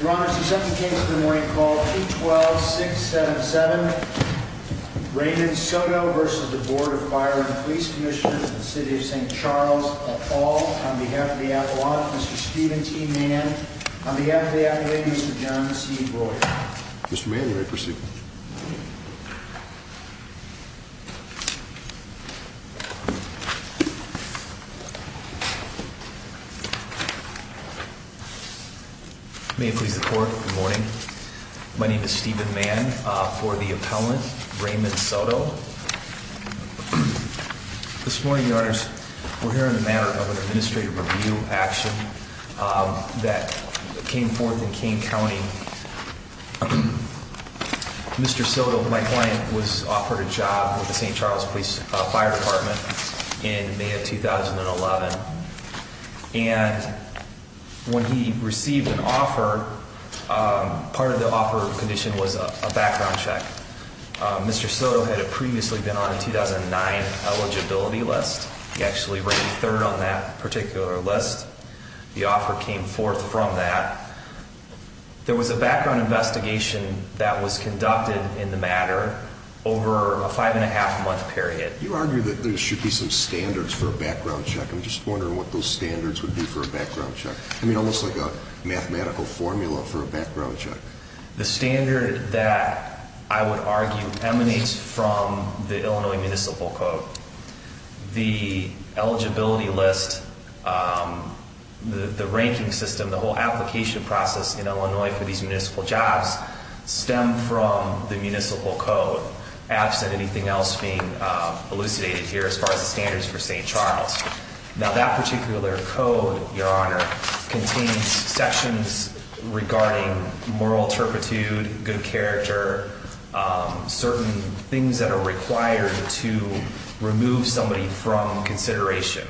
Your Honor, the second case of the morning called P-12-677, Raymond Soto v. Board of Fire & Police Commissioners of the City of St. Charles, Uphall, on behalf of the Appalachians, Mr. Steven T. Mann. On behalf of the Appalachians, Mr. John C. Breuer. Mr. Mann, you may proceed. May it please the Court, good morning. My name is Steven Mann, for the appellant, Raymond Soto. This morning, Your Honors, we're hearing the matter of an administrative review action that came forth in Kane County. Mr. Soto, my client, was offered a job with the St. Charles Fire Department in May of 2011. And when he received an offer, part of the offer condition was a background check. Mr. Soto had previously been on a 2009 eligibility list. He actually ran third on that particular list. The offer came forth from that. There was a background investigation that was conducted in the matter over a five and a half month period. You argue that there should be some standards for a background check. I'm just wondering what those standards would be for a background check. I mean, almost like a mathematical formula for a background check. The standard that I would argue emanates from the Illinois Municipal Code. The eligibility list, the ranking system, the whole application process in Illinois for these municipal jobs, stem from the Municipal Code, absent anything else being elucidated here as far as the standards for St. Charles. Now that particular code, Your Honor, contains sections regarding moral turpitude, good character, certain things that are required to remove somebody from consideration.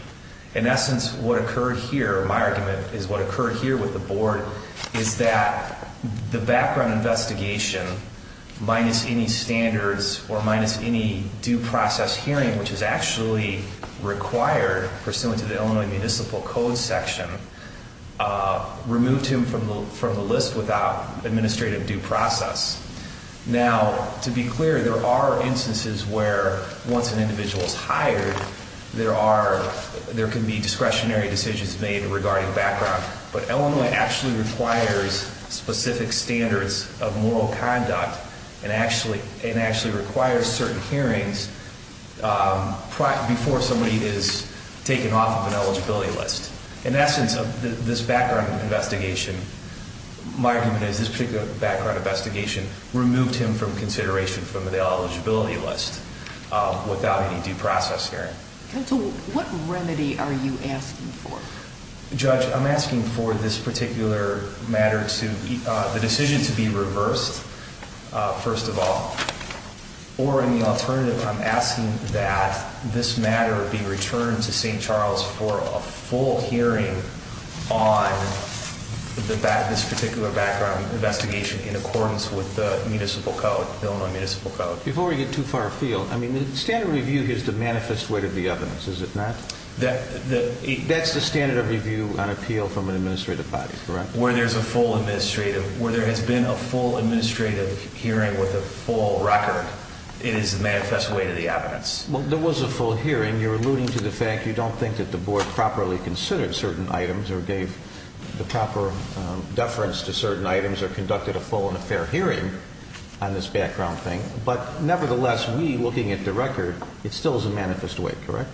In essence, what occurred here, my argument is what occurred here with the Board, is that the background investigation, minus any standards or minus any due process hearing, which is actually required pursuant to the Illinois Municipal Code section, removed him from the list without administrative due process. Now, to be clear, there are instances where once an individual is hired, there can be discretionary decisions made regarding background, but Illinois actually requires specific standards of moral conduct and actually requires certain hearings before somebody is taken off of an eligibility list. In essence, this background investigation, my argument is this particular background investigation removed him from consideration from the eligibility list without any due process hearing. What remedy are you asking for? Judge, I'm asking for this particular matter to, the decision to be reversed, first of all. Or in the alternative, I'm asking that this matter be returned to St. Charles for a full hearing on this particular background investigation in accordance with the Municipal Code, Illinois Municipal Code. Before we get too far afield, I mean, the standard review is the manifest way to the evidence, is it not? That's the standard of review on appeal from an administrative body, correct? Where there's a full administrative, where there has been a full administrative hearing with a full record, it is the manifest way to the evidence. Well, there was a full hearing. You're alluding to the fact you don't think that the Board properly considered certain items or gave the proper deference to certain items or conducted a full and a fair hearing on this background thing. But nevertheless, we, looking at the record, it still is a manifest way, correct?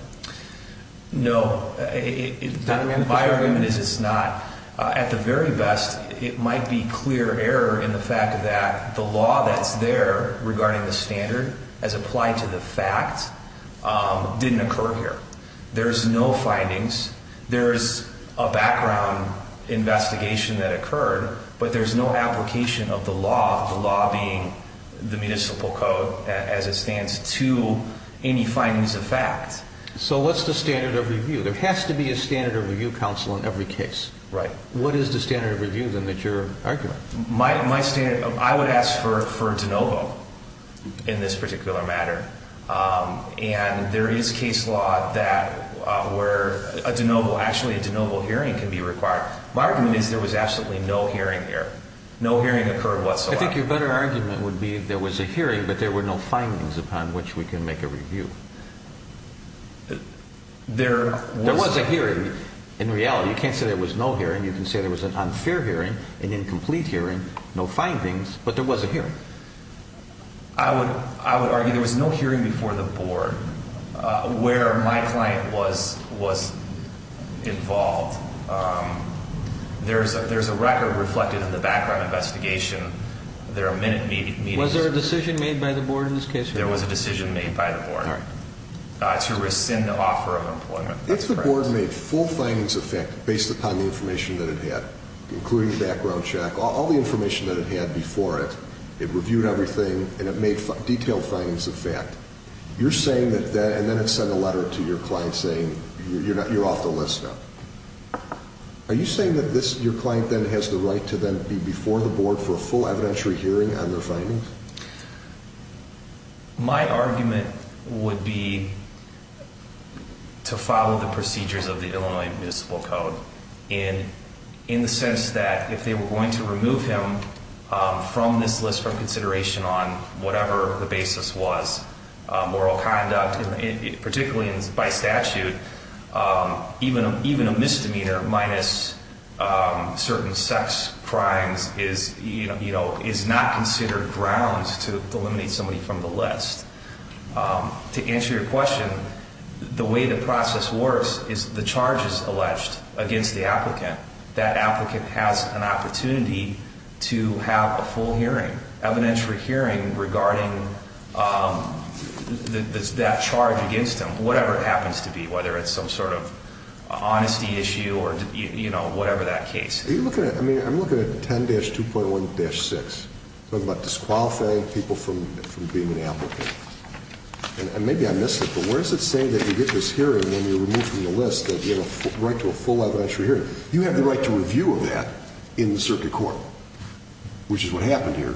No, my argument is it's not. At the very best, it might be clear error in the fact that the law that's there regarding the standard as applied to the fact didn't occur here. There's no findings. There's a background investigation that occurred, but there's no application of the law, the law being the Municipal Code as it stands, to any findings of fact. So what's the standard of review? There has to be a standard of review counsel in every case. What is the standard of review, then, that you're arguing? My standard, I would ask for de novo in this particular matter. And there is case law that where a de novo, actually a de novo hearing can be required. My argument is there was absolutely no hearing here. No hearing occurred whatsoever. I think your better argument would be there was a hearing, but there were no findings upon which we can make a review. There was a hearing. In reality, you can't say there was no hearing. You can say there was an unfair hearing, an incomplete hearing, no findings, but there was a hearing. I would argue there was no hearing before the Board where my client was involved. There's a record reflected in the background investigation. There are minute meetings. Was there a decision made by the Board in this case? There was a decision made by the Board to rescind the offer of employment. If the Board made full findings of fact based upon the information that it had, including the background check, all the information that it had before it, it reviewed everything, and it made detailed findings of fact, you're saying that then it sent a letter to your client saying you're off the list now. Are you saying that your client then has the right to then be before the Board for a full evidentiary hearing on their findings? My argument would be to follow the procedures of the Illinois Municipal Code, in the sense that if they were going to remove him from this list for consideration on whatever the basis was, moral conduct, particularly by statute, even a misdemeanor minus certain sex crimes is not considered grounds to eliminate somebody from the list. To answer your question, the way the process works is the charge is alleged against the applicant. That applicant has an opportunity to have a full hearing, an evidentiary hearing regarding that charge against them, whatever it happens to be, whether it's some sort of honesty issue or whatever that case. I'm looking at 10-2.1-6, talking about disqualifying people from being an applicant. Maybe I missed it, but where is it saying that you get this hearing when you're removed from the list that you have a right to a full evidentiary hearing? You have the right to review of that in the circuit court, which is what happened here.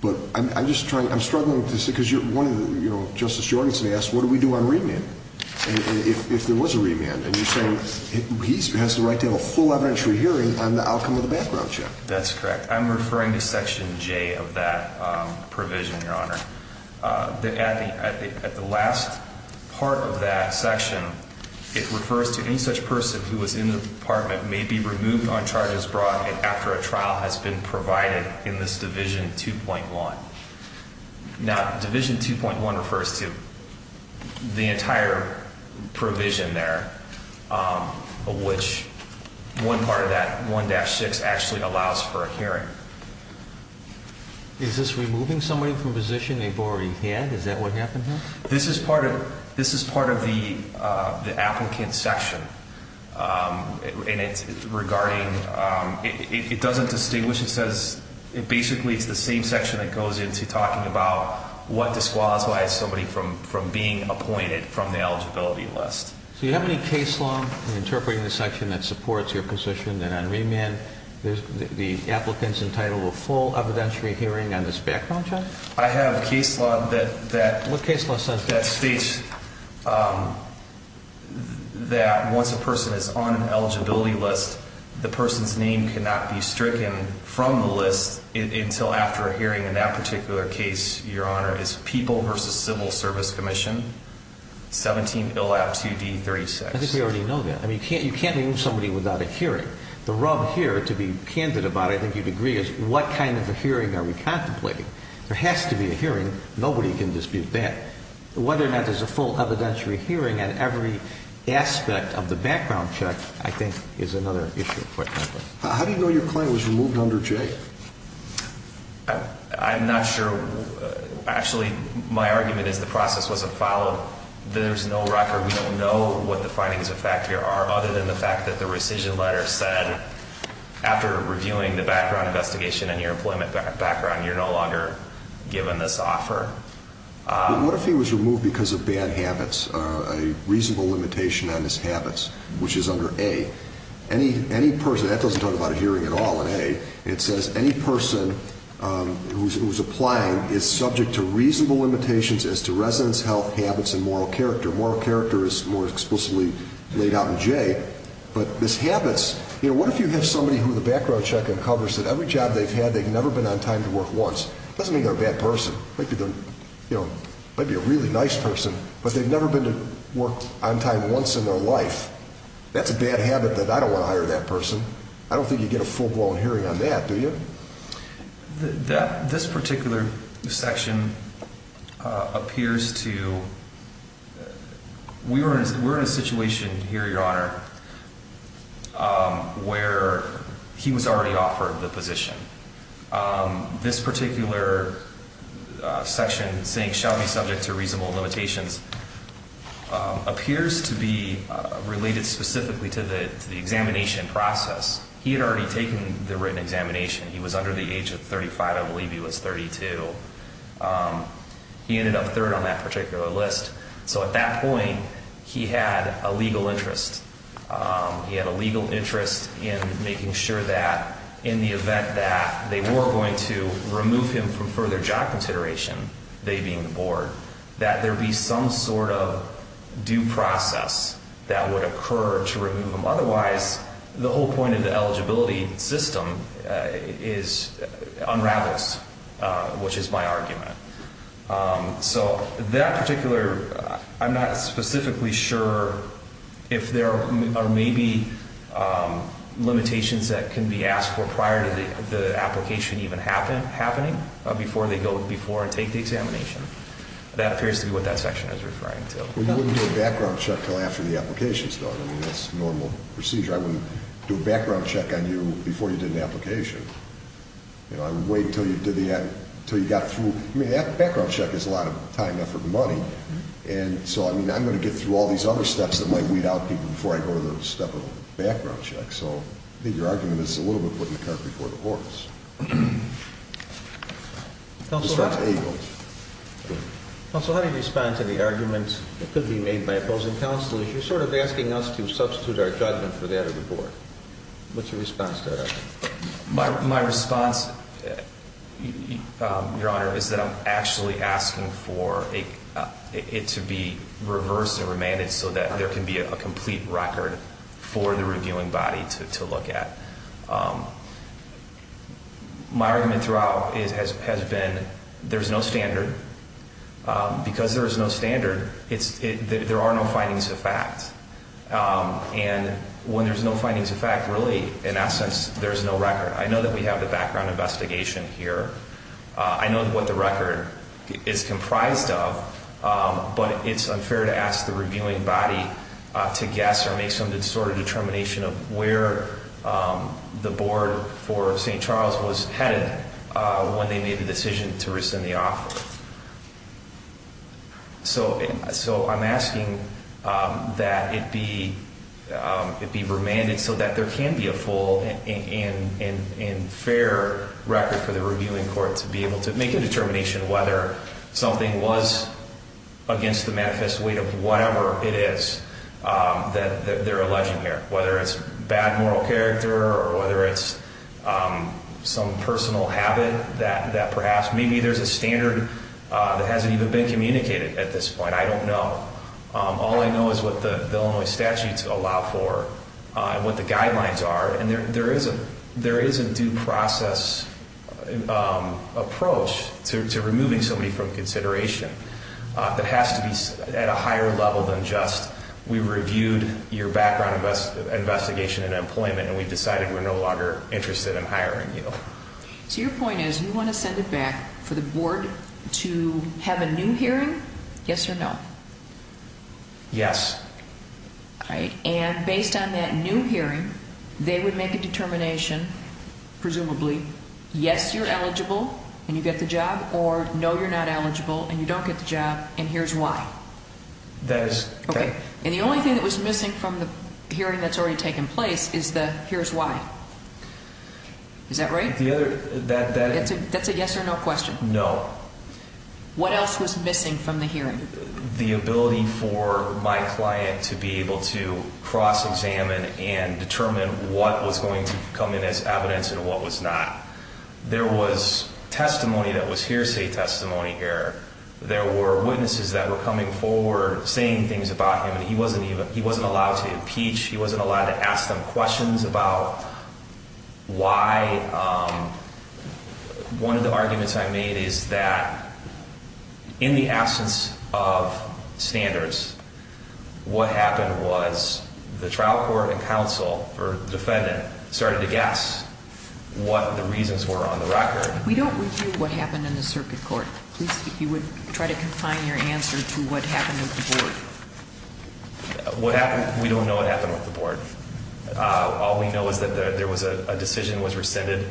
But I'm struggling with this because Justice Jorgenson asked, what do we do on remand? And if there was a remand, and you're saying he has the right to have a full evidentiary hearing on the outcome of the background check. That's correct. I'm referring to Section J of that provision, Your Honor. At the last part of that section, it refers to any such person who was in the department may be removed on charges brought after a trial has been provided in this Division 2.1. Now, Division 2.1 refers to the entire provision there, which one part of that, 1-6, actually allows for a hearing. Is this removing somebody from a position they've already had? Is that what happened here? This is part of the applicant section, and it's regarding, it doesn't distinguish. It says, basically, it's the same section that goes into talking about what disqualifies somebody from being appointed from the eligibility list. So you have any case law in interpreting this section that supports your position that on remand, the applicant's entitled to a full evidentiary hearing on this background check? I have a case law that states that once a person is on an eligibility list, the person's name cannot be stricken from the list until after a hearing. And that particular case, Your Honor, is People v. Civil Service Commission, 17 ILAP 2D36. I think we already know that. I mean, you can't remove somebody without a hearing. The rub here, to be candid about it, I think you'd agree, is what kind of a hearing are we contemplating? There has to be a hearing. Nobody can dispute that. Whether or not there's a full evidentiary hearing on every aspect of the background check, I think, is another issue. How do you know your client was removed under J? I'm not sure. Actually, my argument is the process wasn't followed. There's no record. We don't know what the findings of fact here are, other than the fact that the rescission letter said, after reviewing the background investigation and your employment background, you're no longer given this offer. What if he was removed because of bad habits, a reasonable limitation on his habits, which is under A? That doesn't talk about a hearing at all in A. It says any person who's applying is subject to reasonable limitations as to residence, health, habits, and moral character. Moral character is more explicitly laid out in J. But this habits, you know, what if you have somebody who the background check uncovers that every job they've had, they've never been on time to work once? It doesn't mean they're a bad person. It might be a really nice person, but they've never been to work on time once in their life. That's a bad habit that I don't want to hire that person. I don't think you get a full-blown hearing on that, do you? This particular section appears to, we're in a situation here, your honor, where he was already offered the position. This particular section saying shall be subject to reasonable limitations appears to be related specifically to the examination process. He had already taken the written examination. He was under the age of 35. I believe he was 32. He ended up third on that particular list. So at that point, he had a legal interest. He had a legal interest in making sure that in the event that they were going to remove him from further job consideration, they being the board, that there be some sort of due process that would occur to remove him. Otherwise, the whole point of the eligibility system unravels, which is my argument. So that particular, I'm not specifically sure if there are maybe limitations that can be asked for prior to the application even happening, before they go before and take the examination. That appears to be what that section is referring to. We wouldn't do a background check until after the application is done. I mean, that's normal procedure. I wouldn't do a background check on you before you did an application. You know, I would wait until you did the, until you got through. I mean, that background check is a lot of time, effort, and money. And so, I mean, I'm going to get through all these other steps that might weed out people before I go to the step of a background check. So I think your argument is a little bit putting the cart before the horse. Counsel, how do you respond to the argument that could be made by opposing counselors? You're sort of asking us to substitute our judgment for that of the board. What's your response to that argument? My response, your honor, is that I'm actually asking for it to be reversed and remanded so that there can be a complete record for the reviewing body to look at. My argument throughout has been there's no standard. Because there is no standard, there are no findings of fact. And when there's no findings of fact, really, in essence, there's no record. I know that we have the background investigation here. I know what the record is comprised of. But it's unfair to ask the reviewing body to guess or make some sort of determination of where the board for St. Charles was headed when they made the decision to rescind the offer. So I'm asking that it be remanded so that there can be a full and fair record for the reviewing court to be able to make a determination whether something was against the manifest weight of whatever it is that they're alleging here. Whether it's bad moral character or whether it's some personal habit that perhaps maybe there's a standard that hasn't even been communicated at this point. I don't know. All I know is what the Illinois statutes allow for and what the guidelines are. And there is a due process approach to removing somebody from consideration that has to be at a higher level than just we reviewed your background investigation and employment and we decided we're no longer interested in hiring you. So your point is you want to send it back for the board to have a new hearing, yes or no? Yes. And based on that new hearing, they would make a determination, presumably, yes, you're eligible and you get the job or no, you're not eligible and you don't get the job and here's why. That is correct. And the only thing that was missing from the hearing that's already taken place is the here's why. Is that right? That's a yes or no question. No. What else was missing from the hearing? The ability for my client to be able to cross-examine and determine what was going to come in as evidence and what was not. There was testimony that was hearsay testimony here. There were witnesses that were coming forward saying things about him and he wasn't allowed to impeach. He wasn't allowed to ask them questions about why. One of the arguments I made is that in the absence of standards, what happened was the trial court and counsel or defendant started to guess what the reasons were on the record. We don't review what happened in the circuit court. Please, if you would try to confine your answer to what happened with the board. We don't know what happened with the board. All we know is that there was a decision that was rescinded.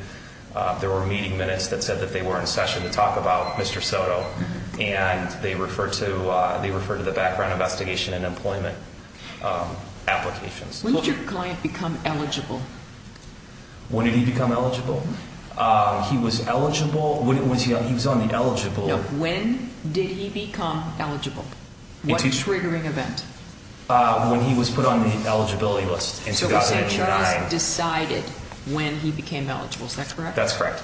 There were meeting minutes that said that they were in session to talk about Mr. Soto and they referred to the background investigation and employment applications. When did your client become eligible? When did he become eligible? He was eligible. He was on the eligible. When did he become eligible? What triggering event? When he was put on the eligibility list. So you're saying Charles decided when he became eligible, is that correct? That's correct.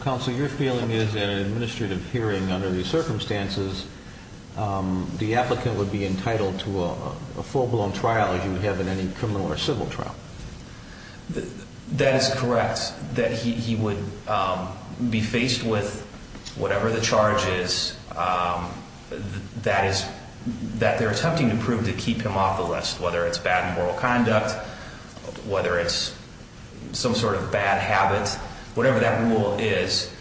Counsel, your feeling is that in an administrative hearing under these circumstances, the applicant would be entitled to a full-blown trial as you would have in any criminal or civil trial. That is correct. That he would be faced with whatever the charge is that they're attempting to prove to keep him off the list, whether it's bad moral conduct, whether it's some sort of bad habit. Whatever that rule is,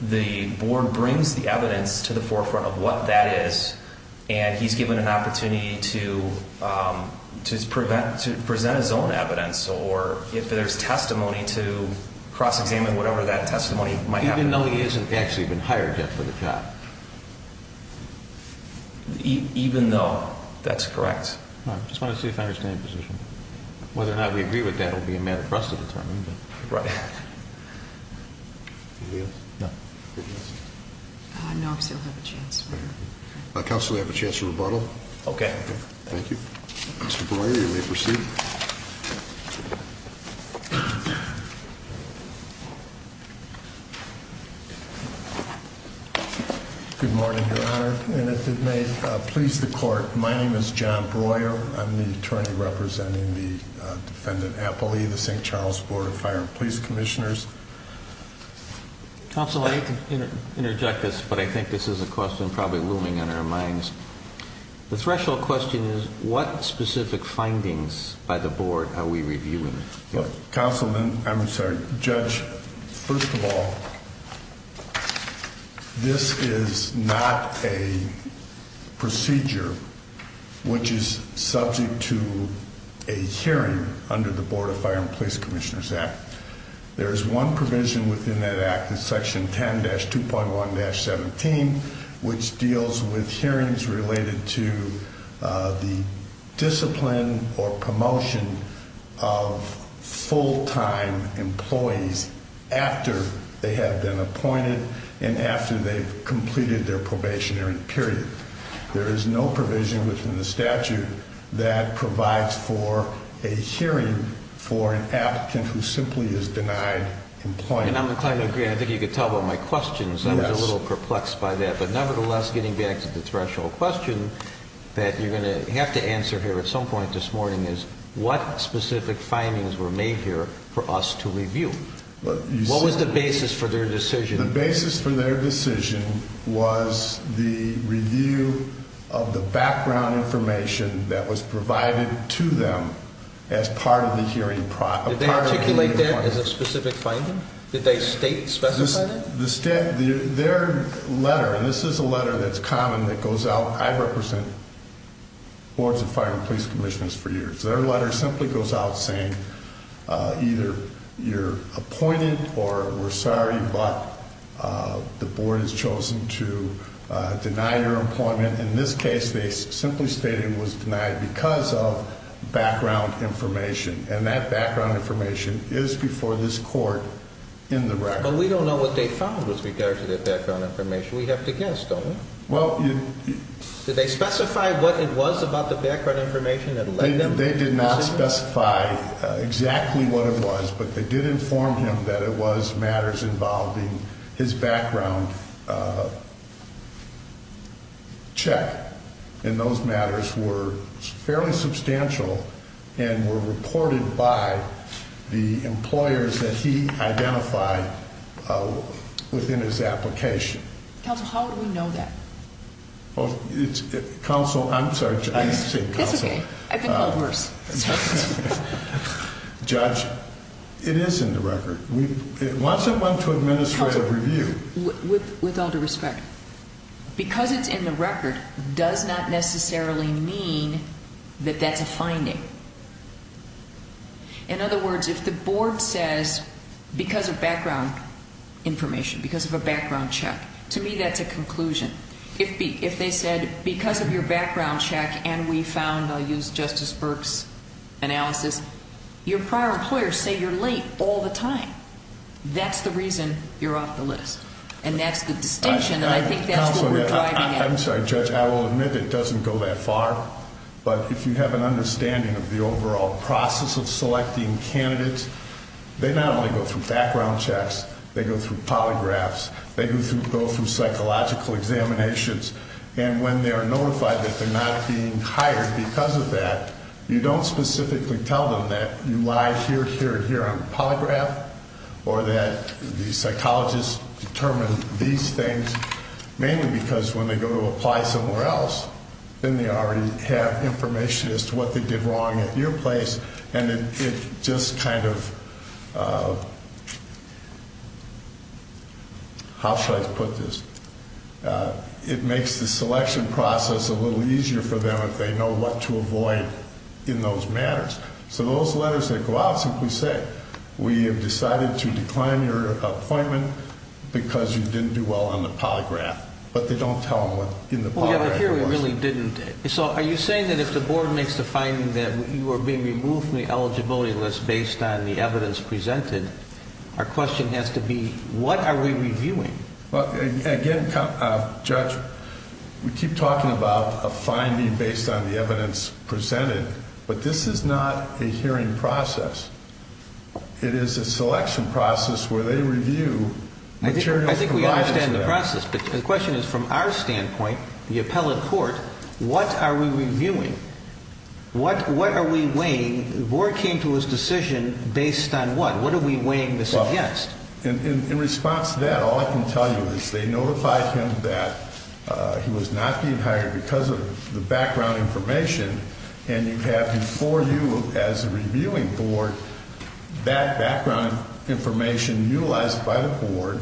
the board brings the evidence to the forefront of what that is and he's given an opportunity to present his own evidence, or if there's testimony to cross-examine whatever that testimony might have been. Even though he hasn't actually been hired yet for the job. Even though. That's correct. I just want to see if I understand your position. Whether or not we agree with that will be a matter for us to determine. No, I still have a chance. Counsel, we have a chance to rebuttal. Okay. Thank you. Mr. Breuer, you may proceed. Good morning, Your Honor. And if it may please the court, my name is John Breuer. I'm the attorney representing the defendant Appley, the St. Charles Board of Fire and Police Commissioners. Counsel, I hate to interject this, but I think this is a question probably looming in our minds. The threshold question is, what specific findings by the board are we reviewing? Counsel, I'm sorry. Judge, first of all, this is not a procedure which is subject to a hearing under the Board of Fire and Police Commissioners Act. There is one provision within that act, in section 10-2.1-17, which deals with hearings related to the discipline or promotion of full-time employees after they have been appointed and after they've completed their probationary period. There is no provision within the statute that provides for a hearing for an applicant who simply is denied employment. And I'm inclined to agree. I think you could tell by my questions. Yes. I was a little perplexed by that. But nevertheless, getting back to the threshold question that you're going to have to answer here at some point this morning is, what specific findings were made here for us to review? What was the basis for their decision? The basis for their decision was the review of the background information that was provided to them as part of the hearing process. Did they articulate that as a specific finding? Did they state, specify that? Their letter, and this is a letter that's common that goes out. I represent boards of fire and police commissioners for years. Their letter simply goes out saying either you're appointed or we're sorry, but the board has chosen to deny your employment. In this case, they simply stated it was denied because of background information. And that background information is before this court in the record. But we don't know what they found with regard to that background information. We have to guess, don't we? Well, you. They did not specify exactly what it was, but they did inform him that it was matters involving his background check. And those matters were fairly substantial and were reported by the employers that he identified within his application. Counsel, how would we know that? Counsel, I'm sorry. It's okay. I've been called worse. Judge, it is in the record. Once it went to administrative review. Counsel, with all due respect, because it's in the record does not necessarily mean that that's a finding. In other words, if the board says because of background information, because of a background check, to me that's a conclusion. If they said because of your background check and we found, I'll use Justice Burke's analysis, your prior employers say you're late all the time. That's the reason you're off the list. And that's the distinction, and I think that's what we're driving at. Counsel, I'm sorry. Judge, I will admit it doesn't go that far. But if you have an understanding of the overall process of selecting candidates, they not only go through background checks, they go through polygraphs. They go through psychological examinations. And when they're notified that they're not being hired because of that, you don't specifically tell them that you lie here, here, and here on polygraph. Or that the psychologist determined these things mainly because when they go to apply somewhere else, then they already have information as to what they did wrong at your place. And it just kind of, how should I put this? It makes the selection process a little easier for them if they know what to avoid in those matters. So those letters that go out simply say, we have decided to decline your appointment because you didn't do well on the polygraph. But they don't tell them what in the polygraph- Well, yeah, but here we really didn't. So are you saying that if the board makes the finding that you are being removed from the eligibility list based on the evidence presented, our question has to be, what are we reviewing? Well, again, Judge, we keep talking about a finding based on the evidence presented. But this is not a hearing process. It is a selection process where they review materials- I think we understand the process. But the question is, from our standpoint, the appellate court, what are we reviewing? What are we weighing? The board came to its decision based on what? What are we weighing to suggest? In response to that, all I can tell you is they notified him that he was not being hired because of the background information. And you have before you as a reviewing board that background information utilized by the board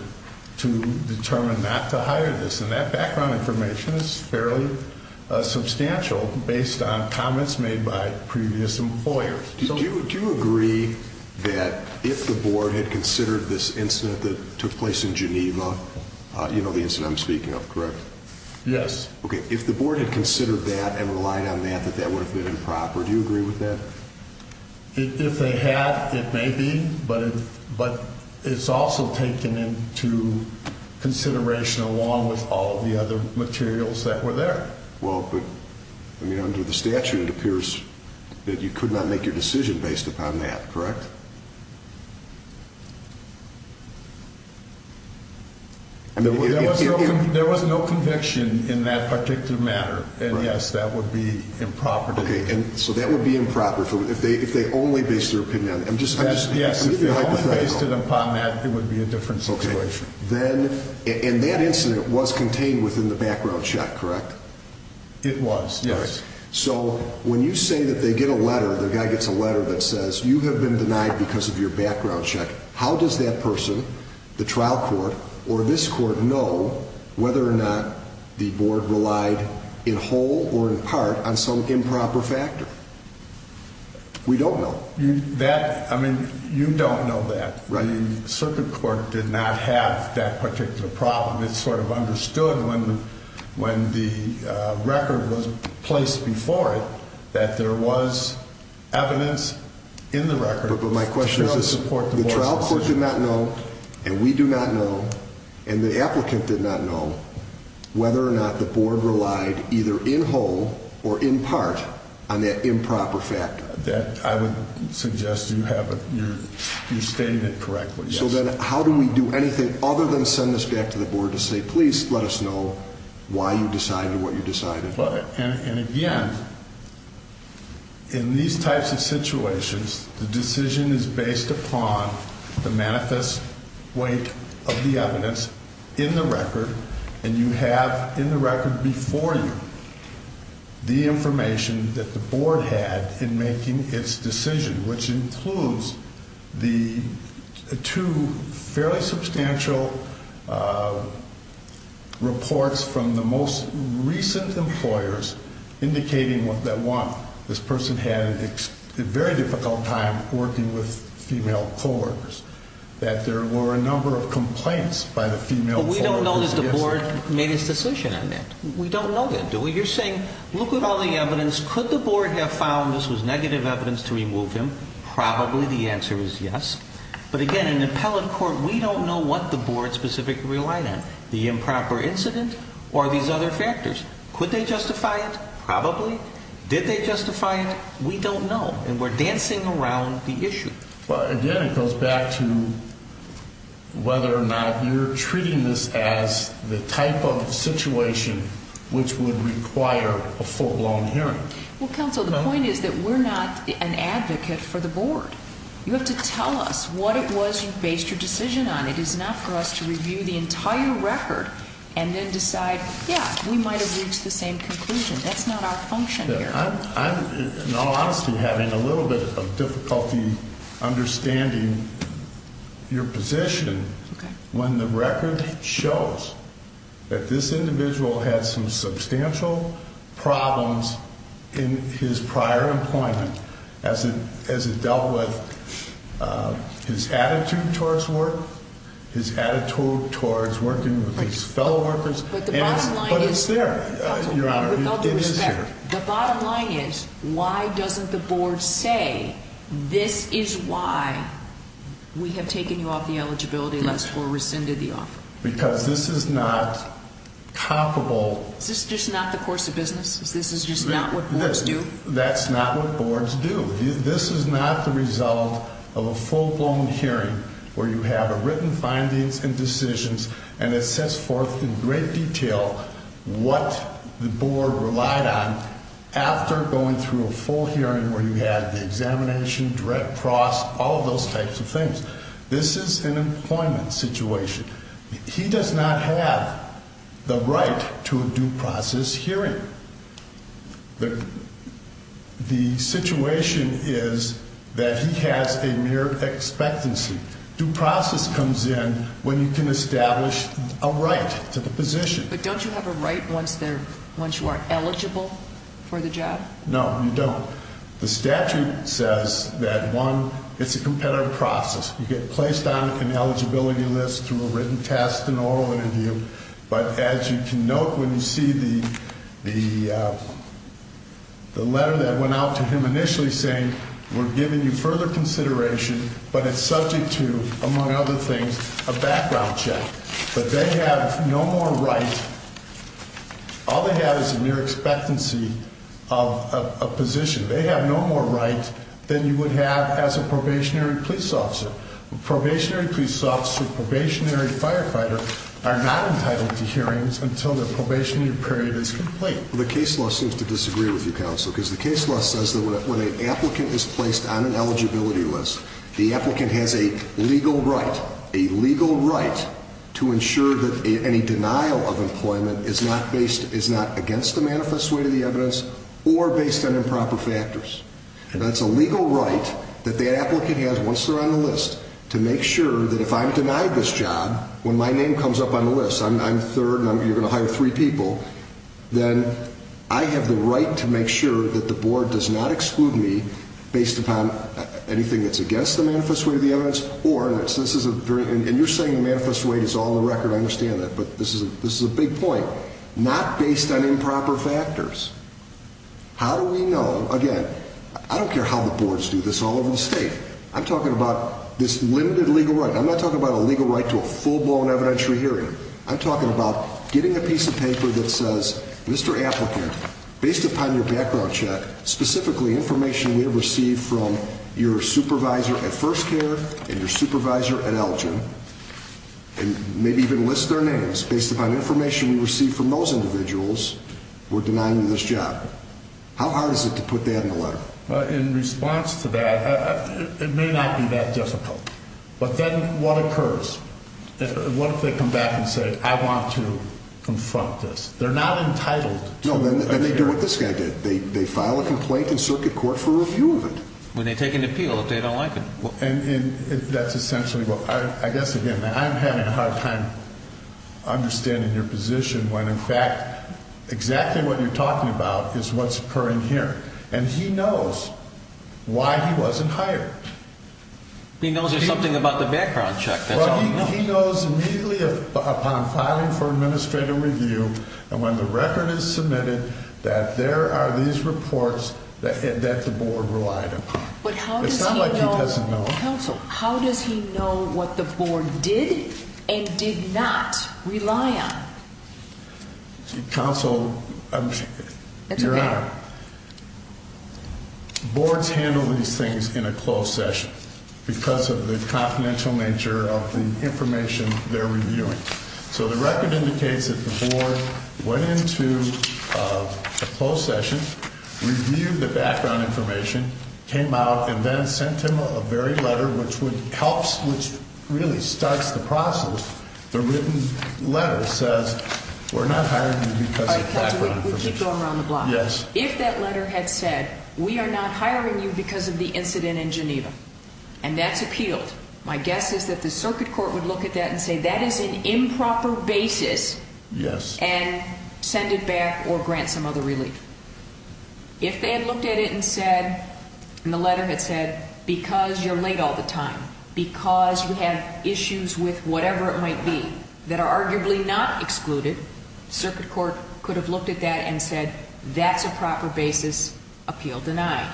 to determine not to hire this. And that background information is fairly substantial based on comments made by previous employers. Do you agree that if the board had considered this incident that took place in Geneva, you know the incident I'm speaking of, correct? Yes. Okay, if the board had considered that and relied on that, that that would have been improper. Do you agree with that? If they had, it may be. But it's also taken into consideration along with all of the other materials that were there. Well, but under the statute, it appears that you could not make your decision based upon that, correct? There was no conviction in that particular matter. And yes, that would be improper. Okay, and so that would be improper if they only based their opinion on it. Yes, if they only based it upon that, it would be a different situation. And that incident was contained within the background check, correct? It was, yes. So, when you say that they get a letter, the guy gets a letter that says you have been denied a job, you have been denied because of your background check, how does that person, the trial court, or this court know whether or not the board relied in whole or in part on some improper factor? We don't know. That, I mean, you don't know that. Right. The circuit court did not have that particular problem. It sort of understood when the record was placed before it that there was evidence in the record. But my question is, the trial court did not know, and we do not know, and the applicant did not know whether or not the board relied either in whole or in part on that improper factor. That, I would suggest you have, you're stating it correctly, yes. So then, how do we do anything other than send this back to the board to say please let us know why you decided what you decided? And again, in these types of situations, the decision is based upon the manifest weight of the evidence in the record, and you have in the record before you the information that the board had in making its decision, which includes the two fairly substantial reports from the most recent employers indicating that, one, this person had a very difficult time working with female co-workers, that there were a number of complaints by the female co-workers. But we don't know that the board made its decision on that. We don't know that, do we? So you're saying, look at all the evidence, could the board have found this was negative evidence to remove him? Probably the answer is yes. But again, in an appellate court, we don't know what the board specifically relied on, the improper incident or these other factors. Could they justify it? Probably. Did they justify it? We don't know. And we're dancing around the issue. Again, it goes back to whether or not you're treating this as the type of situation which would require a full-blown hearing. Well, counsel, the point is that we're not an advocate for the board. You have to tell us what it was you based your decision on. It is not for us to review the entire record and then decide, yeah, we might have reached the same conclusion. That's not our function here. In all honesty, I'm having a little bit of difficulty understanding your position when the record shows that this individual had some substantial problems in his prior employment as it dealt with his attitude towards work, his attitude towards working with his fellow workers. But the bottom line is... But it's there, Your Honor. It is there. The bottom line is, why doesn't the board say, this is why we have taken you off the eligibility list or rescinded the offer? Because this is not comparable... Is this just not the course of business? Is this just not what boards do? That's not what boards do. This is not the result of a full-blown hearing where you have written findings and decisions and it sets forth in great detail what the board relied on after going through a full hearing where you had the examination, direct process, all of those types of things. This is an employment situation. He does not have the right to a due process hearing. The situation is that he has a mere expectancy. Due process comes in when you can establish a right to the position. But don't you have a right once you are eligible for the job? No, you don't. The statute says that, one, it's a competitive process. You get placed on an eligibility list through a written test, an oral interview. But as you can note when you see the letter that went out to him initially saying, we're giving you further consideration, but it's subject to, among other things, a background check. But they have no more right. All they have is a mere expectancy of a position. They have no more right than you would have as a probationary police officer. Probationary police officer, probationary firefighter are not entitled to hearings until the probationary period is complete. The case law seems to disagree with you, counsel, because the case law says that when an applicant is placed on an eligibility list, the applicant has a legal right, a legal right to ensure that any denial of employment is not based, is not against the manifest way to the evidence or based on improper factors. And that's a legal right that the applicant has once they're on the list to make sure that if I'm denied this job, when my name comes up on the list, I'm third and you're going to hire three people, then I have the right to make sure that the board does not exclude me based upon anything that's against the manifest way to the evidence or, and you're saying the manifest way is all the record, I understand that, but this is a big point, not based on improper factors. How do we know, again, I don't care how the boards do this all over the state, I'm talking about this limited legal right, I'm not talking about a legal right to a full-blown evidentiary hearing, I'm talking about getting a piece of paper that says, Mr. Applicant, based upon your background check, specifically information we have received from your supervisor at First Care and your supervisor at Elgin, and maybe even list their names, based upon information we received from those individuals, who were denying you this job, how hard is it to put that in the letter? In response to that, it may not be that difficult, but then what occurs? What if they come back and say, I want to confront this? They're not entitled to a hearing. No, then they do what this guy did, they file a complaint in circuit court for review of it. When they take an appeal, if they don't like it. And that's essentially what, I guess again, I'm having a hard time understanding your position when in fact, exactly what you're talking about is what's occurring here. And he knows why he wasn't hired. He knows there's something about the background check. Well, he knows immediately upon filing for administrative review, and when the record is submitted, that there are these reports that the board relied upon. It's not like he doesn't know. Counsel, you're out. Boards handle these things in a closed session, because of the confidential nature of the information they're reviewing. So the record indicates that the board went into a closed session, reviewed the background information, came out, and then sent him a very letter, which helps, which really starts the process. The written letter says, we're not hiring you because of background information. We keep going around the block. Yes. If that letter had said, we are not hiring you because of the incident in Geneva, and that's appealed, my guess is that the circuit court would look at that and say, that is an improper basis, and send it back or grant some other relief. If they had looked at it and said, and the letter had said, because you're late all the time, because you have issues with whatever it might be, that are arguably not excluded, circuit court could have looked at that and said, that's a proper basis, appeal denied.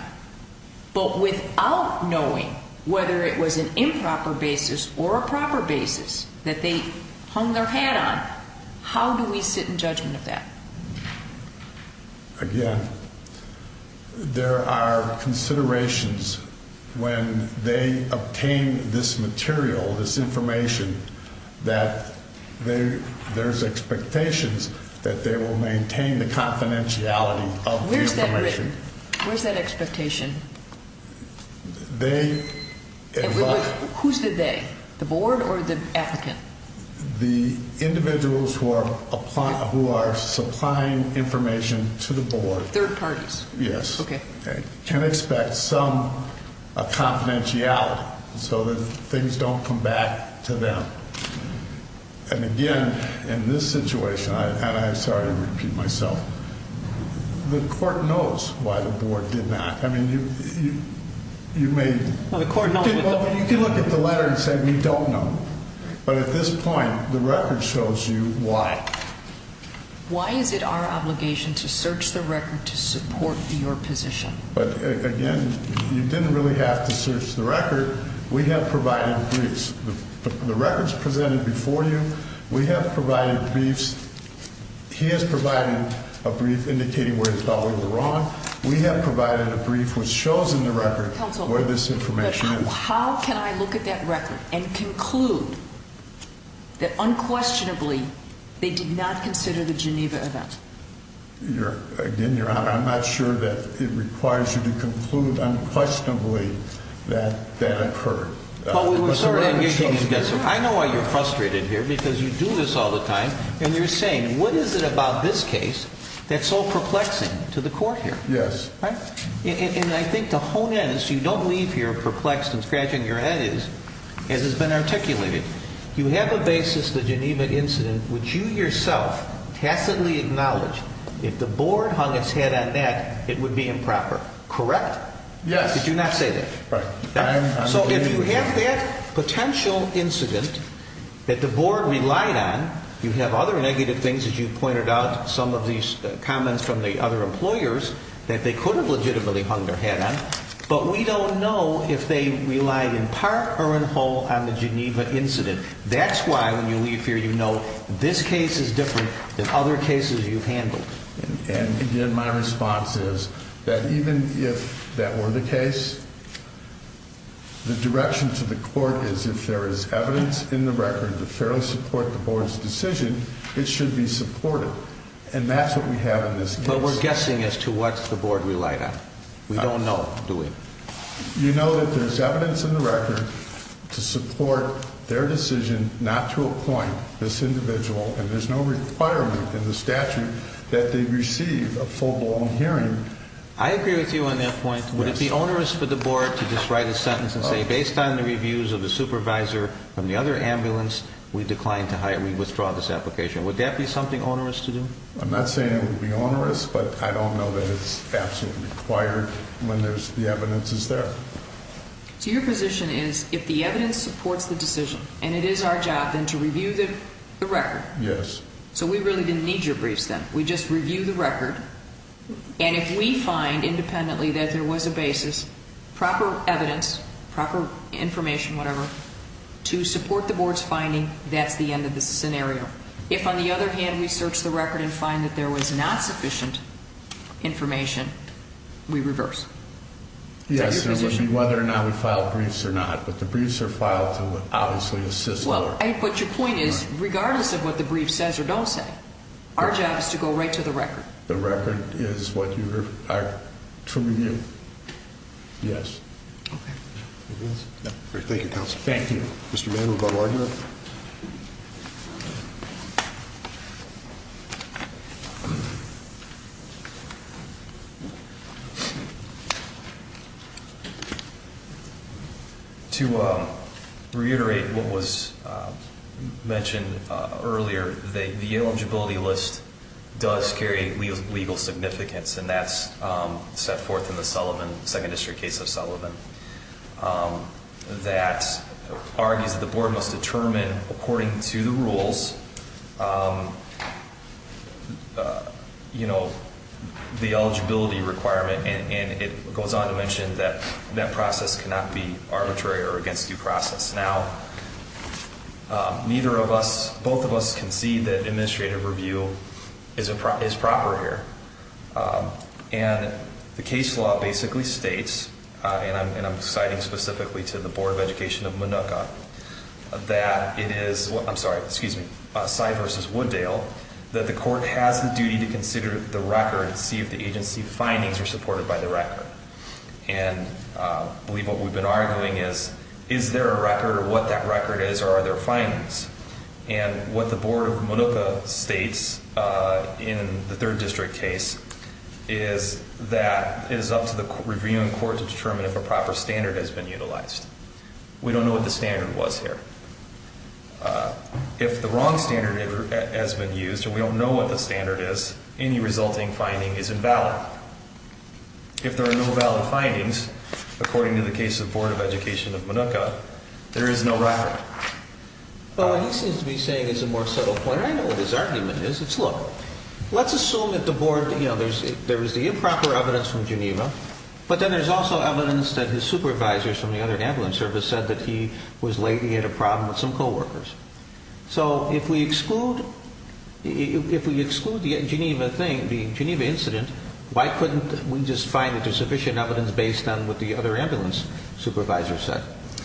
But without knowing whether it was an improper basis or a proper basis that they hung their hat on, how do we sit in judgment of that? Again, there are considerations when they obtain this material, this information, that there's expectations that they will maintain the confidentiality of the information. Where's that written? Where's that expectation? They... Who's the they? The board or the applicant? The individuals who are supplying information to the board. Third parties. Yes. Okay. Can expect some confidentiality so that things don't come back to them. And again, in this situation, and I'm sorry to repeat myself, the court knows why the board did not. I mean, you may... Well, the court... You can look at the letter and say, we don't know. But at this point, the record shows you why. Why is it our obligation to search the record to support your position? But again, you didn't really have to search the record. We have provided briefs. The records presented before you, we have provided briefs. He has provided a brief indicating where it's probably wrong. We have provided a brief which shows in the record where this information is. So how can I look at that record and conclude that unquestionably they did not consider the Geneva event? Again, Your Honor, I'm not sure that it requires you to conclude unquestionably that that occurred. But we were... I know why you're frustrated here, because you do this all the time. And you're saying, what is it about this case that's so perplexing to the court here? Yes. And I think to hone in, so you don't leave here perplexed and scratching your head, as has been articulated, you have a basis, the Geneva incident, which you yourself tacitly acknowledge. If the board hung its head on that, it would be improper. Correct? Yes. Did you not say that? Right. So if you have that potential incident that the board relied on, you have other negative things, as you pointed out, some of these comments from the other employers that they could have legitimately hung their head on. But we don't know if they relied in part or in whole on the Geneva incident. That's why when you leave here, you know this case is different than other cases you've handled. And again, my response is that even if that were the case, the direction to the court is if there is evidence in the record to fairly support the board's decision, it should be supported. And that's what we have in this case. But we're guessing as to what the board relied on. We don't know, do we? You know that there's evidence in the record to support their decision not to appoint this individual, and there's no requirement in the statute that they receive a full-blown hearing. I agree with you on that point. Would it be onerous for the board to just write a sentence and say, based on the reviews of the supervisor from the other ambulance, we withdraw this application? Would that be something onerous to do? I'm not saying it would be onerous, but I don't know that it's absolutely required when the evidence is there. So your position is if the evidence supports the decision and it is our job, then to review the record. Yes. So we really didn't need your briefs then. We just reviewed the record. And if we find independently that there was a basis, proper evidence, proper information, whatever, to support the board's finding, that's the end of the scenario. If, on the other hand, we search the record and find that there was not sufficient information, we reverse. Yes, it would be whether or not we filed briefs or not. But the briefs are filed to obviously assist the board. But your point is, regardless of what the brief says or don't say, our job is to go right to the record. The record is what you require to review. Yes. Okay. Thank you, Counselor. Thank you. Mr. Mann, we're going to argue it. Thank you. To reiterate what was mentioned earlier, the eligibility list does carry legal significance. And that's set forth in the Sullivan, Second District case of Sullivan, that argues that the board must determine, according to the rules, the eligibility requirement. And it goes on to mention that that process cannot be arbitrary or against due process. Now, neither of us, both of us, concede that administrative review is proper here. And the case law basically states, and I'm citing specifically to the Board of Education of Minooka, that it is, I'm sorry, excuse me, Cy versus Wooddale, that the court has the duty to consider the record and see if the agency findings are supported by the record. And I believe what we've been arguing is, is there a record or what that record is or are there findings? And what the Board of Minooka states in the Third District case is that it is up to the reviewing court to determine if a proper standard has been utilized. We don't know what the standard was here. If the wrong standard has been used and we don't know what the standard is, any resulting finding is invalid. If there are no valid findings, according to the case of the Board of Education of Minooka, there is no record. Well, what he seems to be saying is a more subtle point, and I know what his argument is. It's, look, let's assume that the Board, you know, there's the improper evidence from Geneva, but then there's also evidence that his supervisors from the other ambulance service said that he was lately had a problem with some co-workers. So if we exclude, if we exclude the Geneva thing, the Geneva incident, why couldn't we just find that there's sufficient evidence based on what the other ambulance supervisor said?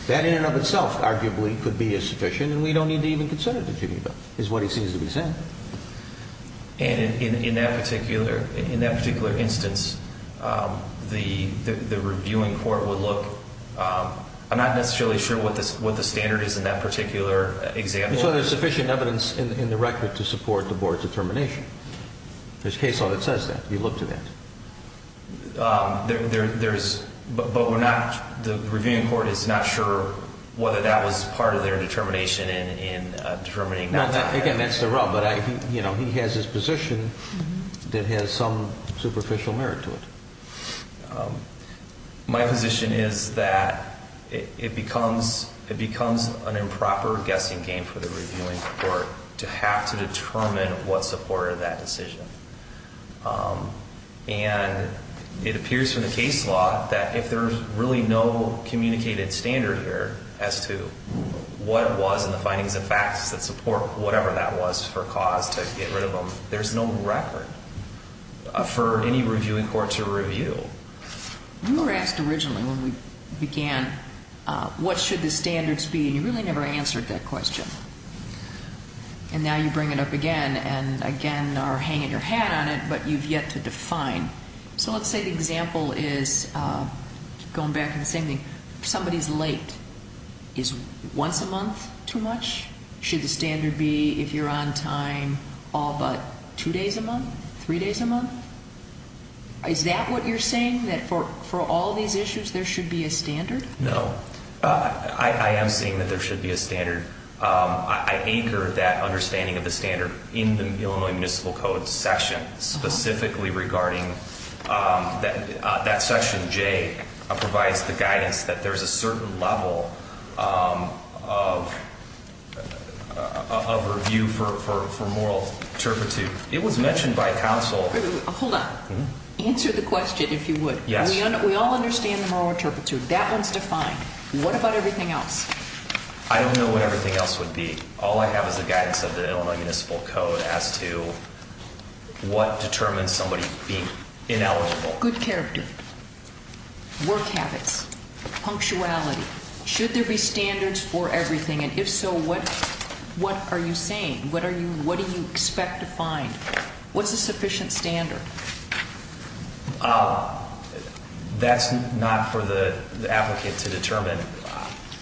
That in and of itself arguably could be as sufficient, and we don't need to even consider the Geneva, is what he seems to be saying. And in that particular instance, the reviewing court would look, I'm not necessarily sure what the standard is in that particular example. So there's sufficient evidence in the record to support the Board's determination. There's case law that says that. You look to that. There's, but we're not, the reviewing court is not sure whether that was part of their determination in determining that. Again, that's the wrong, but I, you know, he has his position that has some superficial merit to it. My position is that it becomes, it becomes an improper guessing game for the reviewing court to have to determine what supported that decision. And it appears from the case law that if there's really no communicated standard here as to what it was in the findings and facts that support whatever that was for cause to get rid of them, there's no record for any reviewing court to review. You were asked originally when we began, what should the standards be? And you really never answered that question. And now you bring it up again and again are hanging your hat on it, but you've yet to define. So let's say the example is going back to the same thing. If somebody's late, is once a month too much? Should the standard be if you're on time all but two days a month, three days a month? Is that what you're saying, that for all these issues there should be a standard? I anchor that understanding of the standard in the Illinois Municipal Code section, specifically regarding that section J provides the guidance that there's a certain level of review for moral turpitude. It was mentioned by counsel. Hold on. Answer the question if you would. Yes. We all understand the moral turpitude. That one's defined. What about everything else? I don't know what everything else would be. All I have is the guidance of the Illinois Municipal Code as to what determines somebody being ineligible. Good character, work habits, punctuality. Should there be standards for everything? And if so, what are you saying? What are you, what do you expect to find? What's a sufficient standard? That's not for the applicant to determine.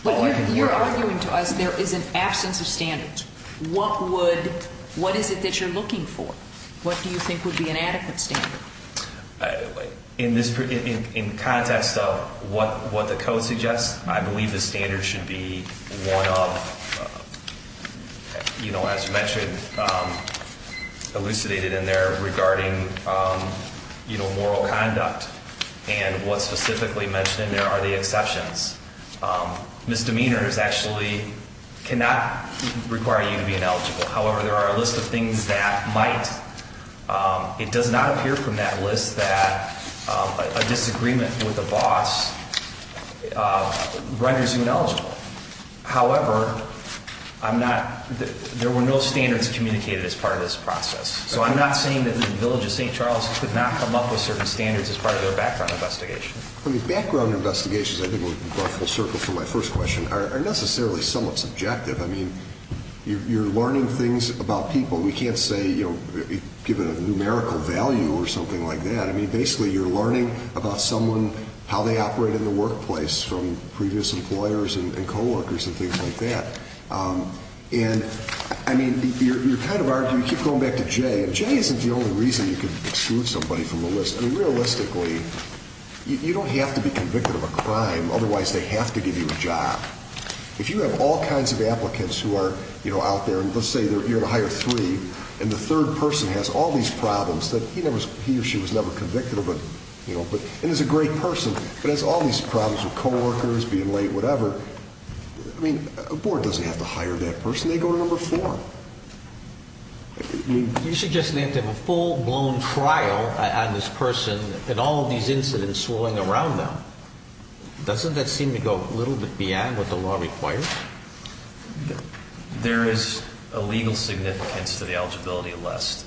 But you're arguing to us there is an absence of standards. What would, what is it that you're looking for? What do you think would be an adequate standard? In this, in context of what the code suggests, I believe the standard should be one of, you know, as you mentioned, elucidated in there regarding, you know, moral conduct. And what's specifically mentioned in there are the exceptions. Misdemeanors actually cannot require you to be ineligible. However, there are a list of things that might. It does not appear from that list that a disagreement with the boss renders you ineligible. However, I'm not, there were no standards communicated as part of this process. So I'm not saying that the village of St. Charles could not come up with certain standards as part of their background investigation. I mean, background investigations, I think we'll go full circle from my first question, are necessarily somewhat subjective. I mean, you're learning things about people. We can't say, you know, given a numerical value or something like that. I mean, basically you're learning about someone, how they operate in the workplace from previous employers and co-workers and things like that. And, I mean, you're kind of arguing, you keep going back to Jay. And Jay isn't the only reason you could exclude somebody from the list. I mean, realistically, you don't have to be convicted of a crime. Otherwise, they have to give you a job. If you have all kinds of applicants who are, you know, out there. And let's say you're going to hire three, and the third person has all these problems that he or she was never convicted of. And is a great person, but has all these problems with co-workers, being late, whatever. I mean, a board doesn't have to hire that person. They go to number four. You're suggesting they have to have a full-blown trial on this person and all of these incidents swirling around them. Doesn't that seem to go a little bit beyond what the law requires? There is a legal significance to the eligibility list.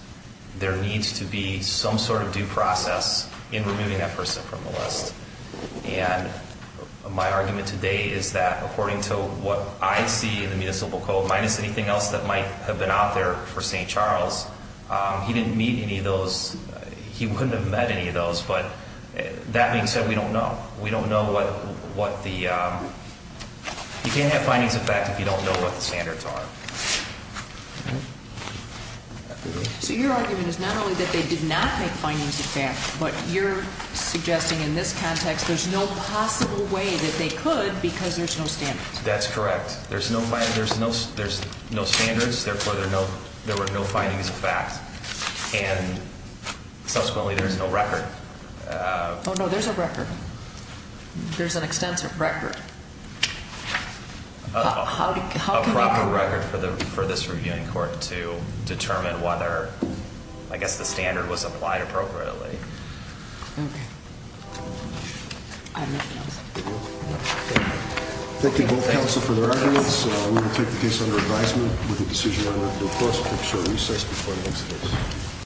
There needs to be some sort of due process in removing that person from the list. And my argument today is that according to what I see in the Municipal Code, minus anything else that might have been out there for St. Charles, he didn't meet any of those, he wouldn't have met any of those. But that being said, we don't know. We don't know what the, you can't have findings of fact if you don't know what the standards are. So your argument is not only that they did not make findings of fact, but you're suggesting in this context there's no possible way that they could because there's no standards. That's correct. There's no standards, therefore there were no findings of fact. And subsequently there's no record. Oh no, there's a record. There's an extensive record. A proper record for this reviewing court to determine whether, I guess, the standard was applied appropriately. Thank you both counsel for your arguments. We will take the case under advisement with the decision on a due process. We'll take a short recess before the next case.